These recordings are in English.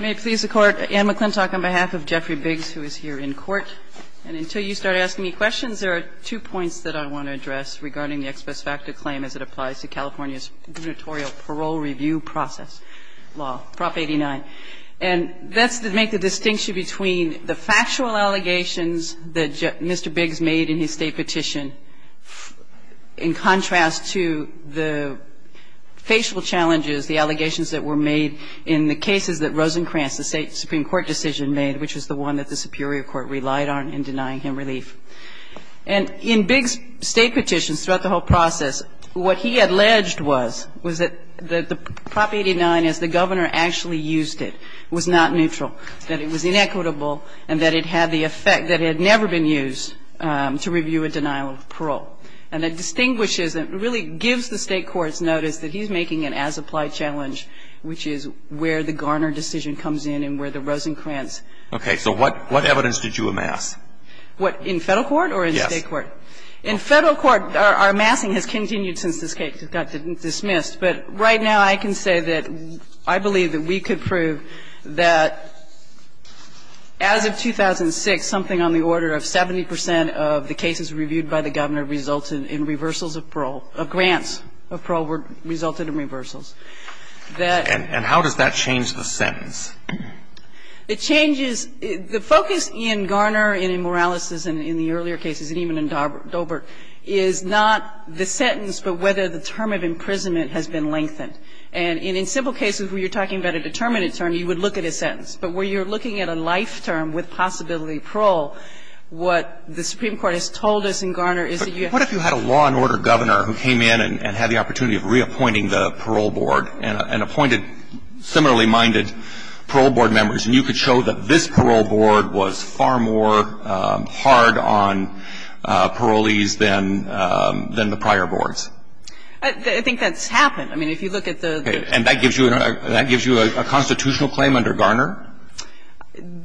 May it please the Court, Anne McClintock on behalf of Jeffrey Biggs, who is here in court. And until you start asking me questions, there are two points that I want to address regarding the Ex Pes Facto claim as it applies to California's gubernatorial parole review process law, Prop 89. And that's to make the distinction between the factual allegations that Mr. Biggs made in his State Petition in contrast to the facial challenges, the allegations that were made in the cases that Rosencrantz, the State Supreme Court decision made, which was the one that the Superior Court relied on in denying him relief. And in Biggs' State Petitions throughout the whole process, what he alleged was, was that the Prop 89, as the Governor actually used it, was not neutral. That it was inequitable and that it had the effect that it had never been used to review a denial of parole. And it distinguishes and really gives the State Courts notice that he's making an as-applied challenge, which is where the Garner decision comes in and where the Rosencrantz. Okay, so what evidence did you amass? What, in Federal Court or in State Court? In Federal Court, our amassing has continued since this case got dismissed. But right now, I can say that I believe that we could prove that as of 2006, something on the order of 70 percent of the cases reviewed by the Governor resulted in reversals of parole, of grants of parole resulted in reversals. And how does that change the sentence? It changes the focus in Garner and in Morales' and in the earlier cases, and even in Dobert, is not the sentence, but whether the term of imprisonment has been lengthened. And in simple cases where you're talking about a determinate term, you would look at a sentence. But where you're looking at a life term with possibility of parole, what the Supreme Court has told us in Garner is that you have to be careful. But what if you had a law and order Governor who came in and had the opportunity of reappointing the parole board and appointed similarly-minded parole board members? And you could show that this parole board was far more hard on parolees than the prior boards? I think that's happened. I mean, if you look at the the And that gives you a constitutional claim under Garner?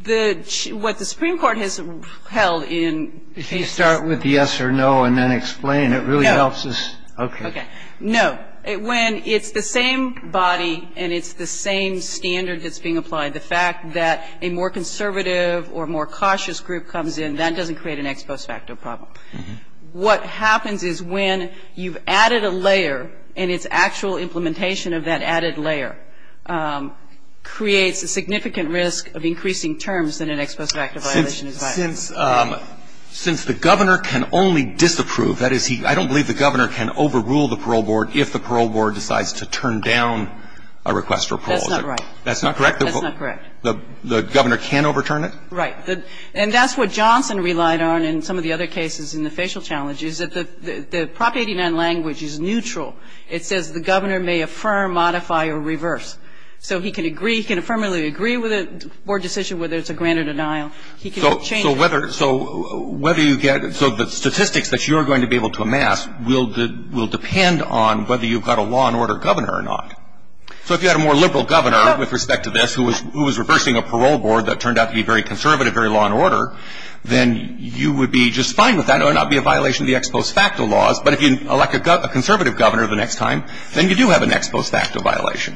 What the Supreme Court has held in cases If you start with the yes or no and then explain, it really helps us No. Okay. No. When it's the same body and it's the same standard that's being applied, the fact that a more conservative or more cautious group comes in, that doesn't create an ex post facto problem. What happens is when you've added a layer and its actual implementation of that added layer creates a significant risk of increasing terms in an ex post facto violation. Since the Governor can only disapprove, that is, I don't believe the Governor can overrule the parole board if the parole board decides to turn down a request for parole. That's not right. That's not correct? That's not correct. The Governor can overturn it? Right. And that's what Johnson relied on in some of the other cases in the facial challenge, is that the Prop 89 language is neutral. It says the Governor may affirm, modify, or reverse. So he can agree, he can affirmatively agree with a board decision whether it's a granted denial. He can change it. So whether you get, so the statistics that you're going to be able to amass will depend on whether you've got a law and order Governor or not. So if you had a more liberal Governor with respect to this who was reversing a parole board that turned out to be very conservative, very law and order, then you would be just fine with that or it would not be a violation of the ex post facto laws. But if you elect a conservative Governor the next time, then you do have an ex post facto violation.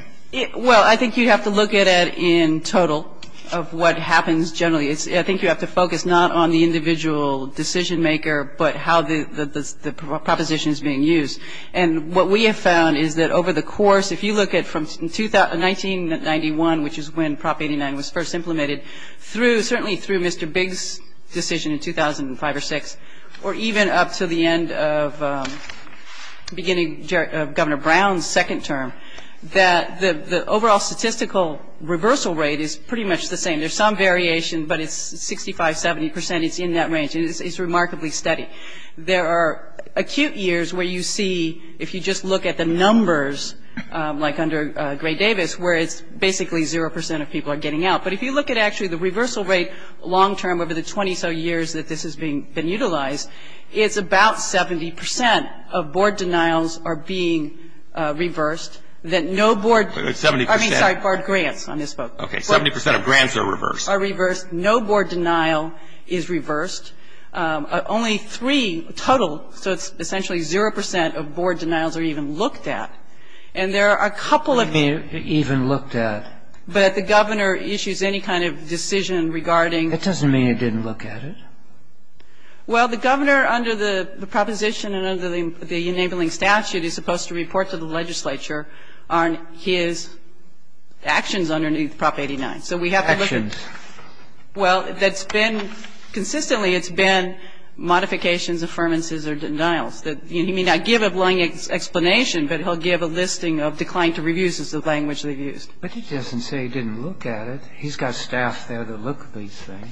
Well, I think you have to look at it in total of what happens generally. I think you have to focus not on the individual decision maker, but how the proposition is being used. And what we have found is that over the course, if you look at from 1991, which is when Prop 89 was first implemented, certainly through Mr. Biggs' decision in 2005 or 6, or even up to the end of beginning of Governor Brown's second term, that the overall statistical reversal rate is pretty much the same. There's some variation, but it's 65, 70 percent. It's in that range. And it's remarkably steady. There are acute years where you see, if you just look at the numbers, like under Gray-Davis, where it's basically zero percent of people are getting out. But if you look at actually the reversal rate long term over the 20 or so years that this has been utilized, it's about 70 percent of board denials are being reversed. That no board, I mean, sorry, board grants on this book. Okay, 70 percent of grants are reversed. Are reversed. No board denial is reversed. Only three total, so it's essentially zero percent of board denials are even looked at. And there are a couple of them. Even looked at. But the Governor issues any kind of decision regarding. That doesn't mean it didn't look at it. Well, the Governor, under the proposition and under the enabling statute, is supposed to report to the legislature on his actions underneath Prop 89. So we have to look at. Actions. Well, that's been, consistently it's been modifications, affirmances or denials. He may not give a blank explanation, but he'll give a listing of declined to reviews as the language they've used. But he doesn't say he didn't look at it. He's got staff there to look at these things.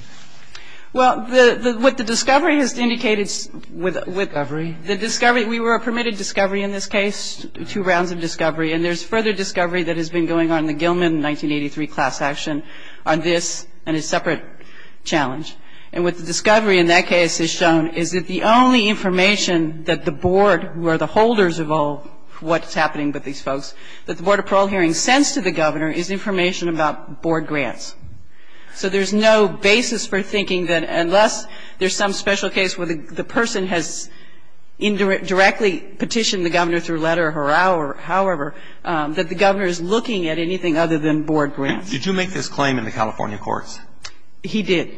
Well, what the discovery has indicated with. Discovery. The discovery. We were permitted discovery in this case, two rounds of discovery. And there's further discovery that has been going on in the Gilman 1983 class action on this and a separate challenge. And what the discovery in that case has shown is that the only information that the board, who are the holders of all what's happening with these folks, that the Board of Parole hearings sends to the Governor is information about board grants. So there's no basis for thinking that unless there's some special case where the person has indirectly petitioned the Governor through letter or however, that the Governor is looking at anything other than board grants. Did you make this claim in the California courts? He did.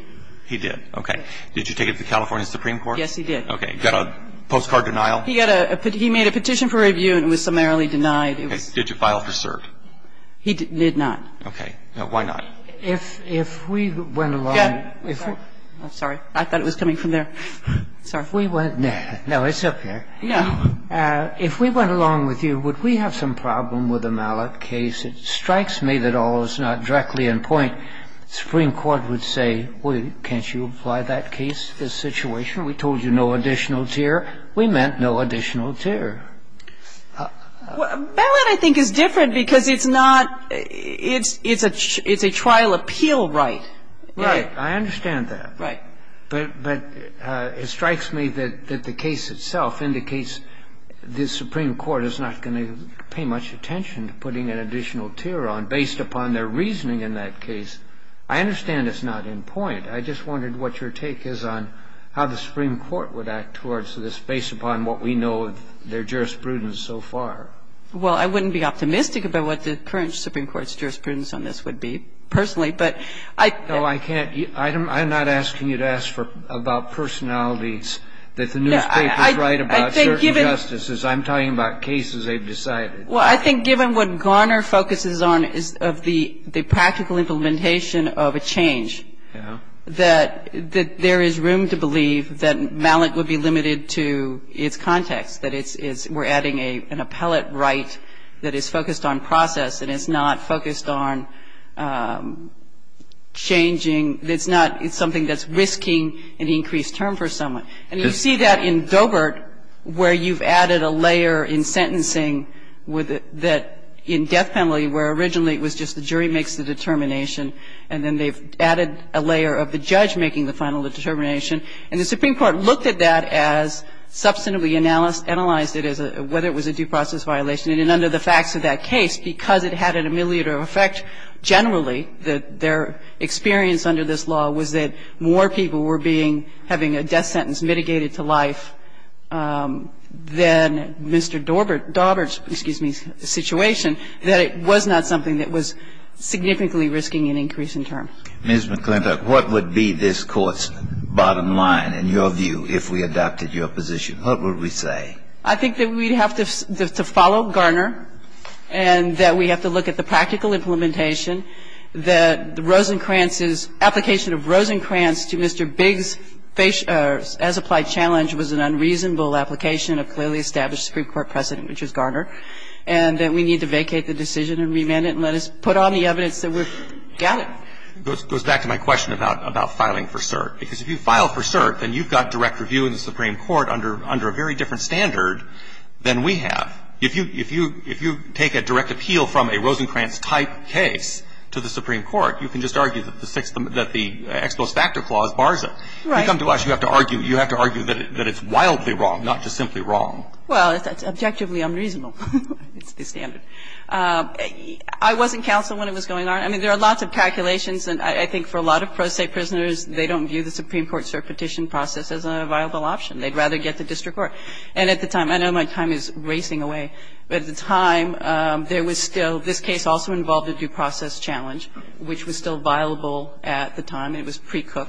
He did. Okay. Did you take it to the California Supreme Court? Yes, he did. Okay. Got a postcard denial? He got a, he made a petition for review and was summarily denied. Did you file for cert? He did not. Okay. Why not? If, if we went along. Sorry. I thought it was coming from there. Sorry. If we went, no, it's up here. No. If we went along with you, would we have some problem with a mallet case? It strikes me that all is not directly in point. The Supreme Court would say, well, can't you apply that case to this situation? We told you no additional tier. We meant no additional tier. A mallet, I think, is different because it's not, it's a, it's a trial appeal right. Right. I understand that. Right. But, but it strikes me that the case itself indicates the Supreme Court is not going to pay much attention to putting an additional tier on, based upon their reasoning in that case. I understand it's not in point. I just wondered what your take is on how the Supreme Court would act towards this, based upon what we know of their jurisprudence so far. Well, I wouldn't be optimistic about what the current Supreme Court's jurisprudence on this would be, personally, but I. No, I can't. I'm not asking you to ask for, about personalities that the newspapers write about certain justices. I'm talking about cases they've decided. Well, I think given what Garner focuses on is of the, the practical implementation of a change, that, that there is room to believe that mallet would be limited to its context, that it's, we're adding an appellate right that is focused on process and is not focused on changing, it's not, it's something that's risking an increased term for someone. And you see that in Doebert, where you've added a layer in sentencing with the, that in death penalty, where originally it was just the jury makes the determination, and then they've added a layer of the judge making the final determination. And the Supreme Court looked at that as, substantively analyzed it as a, whether it was a due process violation. And under the facts of that case, because it had an ameliorative effect, generally, that their experience under this law was that more people were being, having a death sentence mitigated to life than Mr. Doebert, Doebert's, excuse me, situation, that it was not something that was significantly risking an increase in term. Ms. McClintock, what would be this Court's bottom line, in your view, if we adopted your position? What would we say? I think that we'd have to, to follow Garner, and that we have to look at the practical implementation, that the Rosencrantz's, application of Rosencrantz to Mr. Bigg's as-applied challenge was an unreasonable application of clearly established Supreme Court precedent, which was Garner, and that we need to vacate the decision and remand it, and let us put on the evidence that we've got it. It goes back to my question about, about filing for cert. Because if you file for cert, then you've got direct review in the Supreme Court under, under a very different standard than we have. If you, if you, if you take a direct appeal from a Rosencrantz-type case to the Supreme Court, you can just argue that the sixth, that the Ex post facto clause bars it. Right. You come to us, you have to argue, you have to argue that it's wildly wrong, not just simply wrong. Well, it's objectively unreasonable. It's the standard. I wasn't counsel when it was going on. I mean, there are lots of calculations, and I think for a lot of pro se prisoners, they don't view the Supreme Court cert petition process as a viable option. They'd rather get the district court. And at the time, I know my time is racing away, but at the time, there was still this case also involved a due process challenge, which was still viable at the time. It was precook.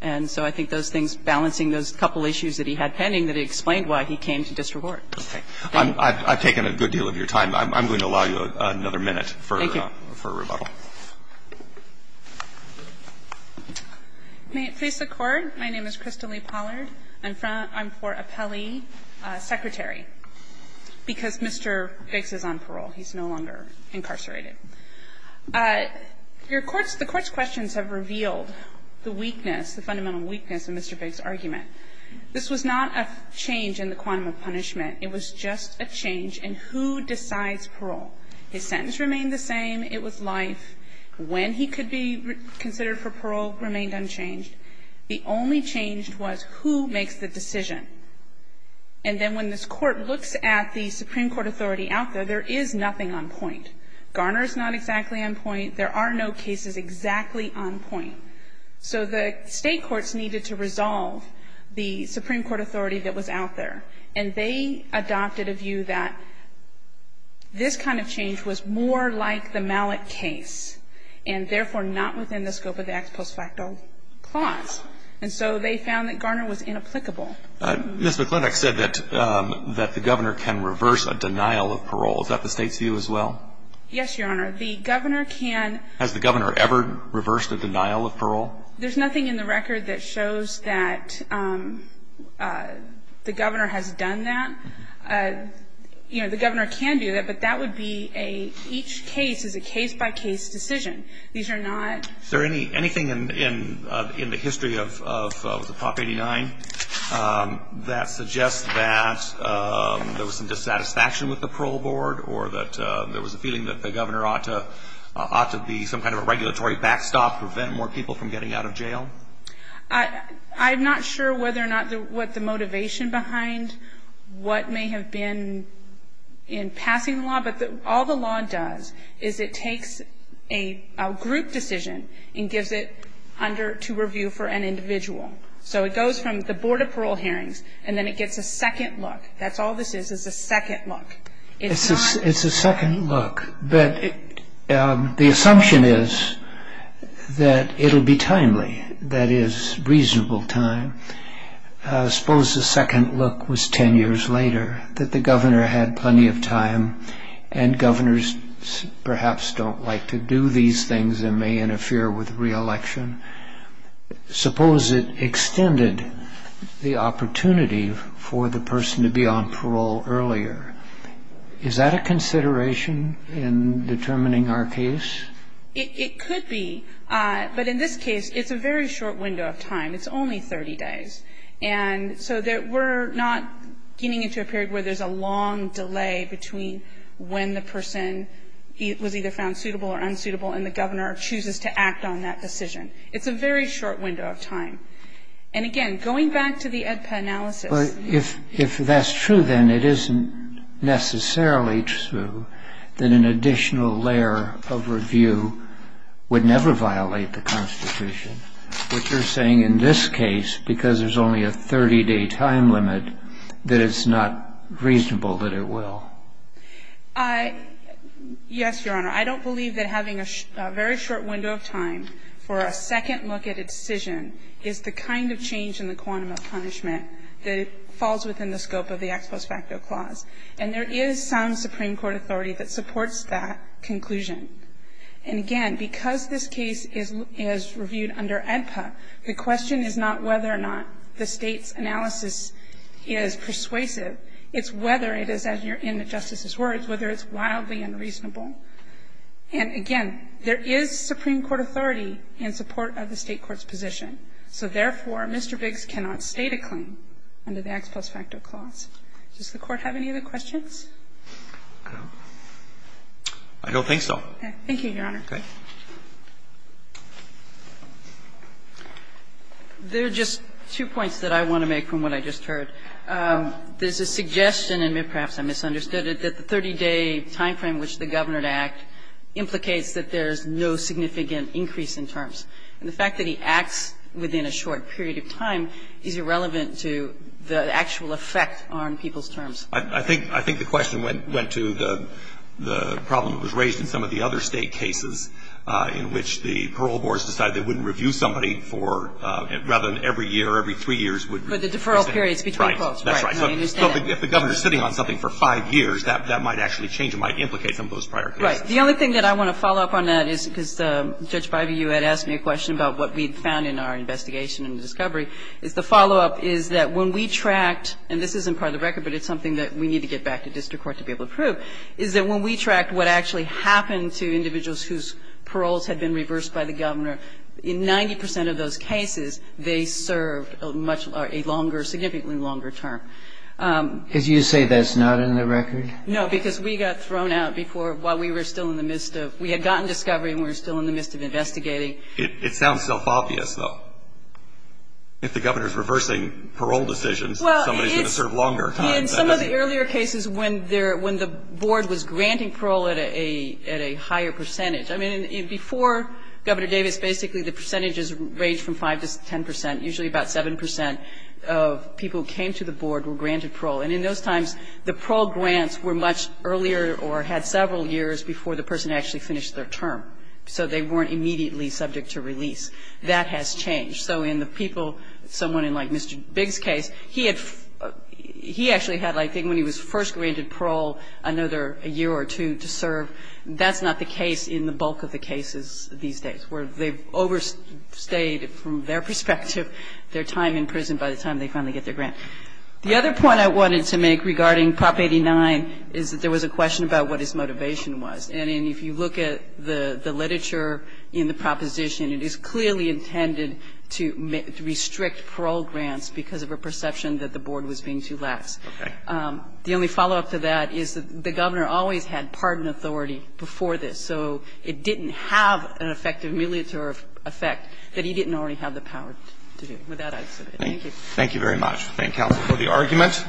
And so I think those things, balancing those couple issues that he had pending, that he explained why he came to district court. Okay. I've taken a good deal of your time. I'm going to allow you another minute for, for rebuttal. Thank you. May it please the Court. My name is Crystal Lee Pollard. I'm for appellee secretary, because Mr. Biggs is on parole. He's no longer incarcerated. Your Court's, the Court's questions have revealed the weakness, the fundamental weakness in Mr. Biggs' argument. This was not a change in the quantum of punishment. It was just a change in who decides parole. His sentence remained the same. It was life. When he could be considered for parole remained unchanged. The only change was who makes the decision. And then when this Court looks at the Supreme Court authority out there, there is nothing on point. Garner's not exactly on point. There are no cases exactly on point. So the state courts needed to resolve the Supreme Court authority that was out there. And they adopted a view that this kind of change was more like the Mallett case, and therefore not within the scope of the ex post facto clause. And so they found that Garner was inapplicable. Ms. McLintock said that the governor can reverse a denial of parole. Is that the state's view as well? Yes, Your Honor. The governor can. Has the governor ever reversed a denial of parole? There's nothing in the record that shows that the governor has done that. You know, the governor can do that, but that would be a, each case is a case by case decision. These are not... Is there anything in the history of the Prop 89 that suggests that there was some dissatisfaction with the parole board or that there was a feeling that the governor ought to be some kind of a regulatory backstop to prevent more people from getting out of jail? I'm not sure whether or not what the motivation behind what may have been in a group decision and gives it under to review for an individual. So it goes from the Board of Parole Hearings and then it gets a second look. That's all this is, is a second look. It's not... It's a second look, but the assumption is that it'll be timely, that is, reasonable time. Suppose the second look was 10 years later, that the governor had plenty of time to do these things that may interfere with reelection. Suppose it extended the opportunity for the person to be on parole earlier. Is that a consideration in determining our case? It could be, but in this case, it's a very short window of time. It's only 30 days. And so we're not getting into a period where there's a long delay between when the person was either found suitable or unsuitable and the governor chooses to act on that decision. It's a very short window of time. And again, going back to the EDPA analysis... But if that's true, then it isn't necessarily true that an additional layer of review would never violate the Constitution, which you're saying in this case, because there's only a 30-day time limit, that it's not reasonable that it will. Yes, Your Honor. I don't believe that having a very short window of time for a second look at a decision is the kind of change in the quantum of punishment that falls within the scope of the ex post facto clause. And there is some Supreme Court authority that supports that conclusion. And again, because this case is reviewed under EDPA, the question is not whether or not the State's analysis is persuasive. It's whether it is, as you're in the Justice's words, whether it's wildly unreasonable. And again, there is Supreme Court authority in support of the State court's position. So therefore, Mr. Biggs cannot state a claim under the ex post facto clause. Does the Court have any other questions? I don't think so. Thank you, Your Honor. There are just two points that I want to make from what I just heard. There's a suggestion, and perhaps I misunderstood it, that the 30-day time frame which the Governor would act implicates that there's no significant increase in terms. And the fact that he acts within a short period of time is irrelevant to the actual effect on people's terms. I think the question went to the problem that was raised in some of the other State cases in which the parole boards decided they wouldn't review somebody for, rather than every year, every three years. But the deferral period is between close. Right. That's right. So if the Governor is sitting on something for five years, that might actually change. It might implicate some of those prior cases. Right. The only thing that I want to follow up on that is, because Judge Bybee, you had asked me a question about what we found in our investigation and discovery, is the follow-up is that when we tracked, and this isn't part of the record, but it's something that we need to get back to district court to be able to prove, is that when we tracked what actually happened to individuals whose paroles had been reversed by the Governor, in 90 percent of those cases, they served a much longer, significantly longer term. Did you say that's not in the record? No, because we got thrown out before, while we were still in the midst of, we had gotten discovery and we were still in the midst of investigating. It sounds self-obvious, though. If the Governor is reversing parole decisions, somebody is going to serve longer time. In some of the earlier cases, when the board was granting parole at a higher percentage, I mean, before Governor Davis, basically the percentages ranged from 5 to 10 percent, usually about 7 percent of people who came to the board were granted parole. And in those times, the parole grants were much earlier or had several years before the person actually finished their term. So they weren't immediately subject to release. That has changed. So in the people, someone in like Mr. Bigg's case, he had, he actually had, I think when he was first granted parole, another year or two to serve. That's not the case in the bulk of the cases these days, where they've overstayed from their perspective their time in prison by the time they finally get their grant. The other point I wanted to make regarding Prop 89 is that there was a question about what his motivation was. And if you look at the literature in the proposition, it is clearly intended to restrict parole grants because of a perception that the board was being too lax. The only follow-up to that is that the Governor always had pardon authority before this. So it didn't have an effective military effect that he didn't already have the power to do. With that, I submit. Thank you. Roberts. Thank you very much. Thank counsel for the argument.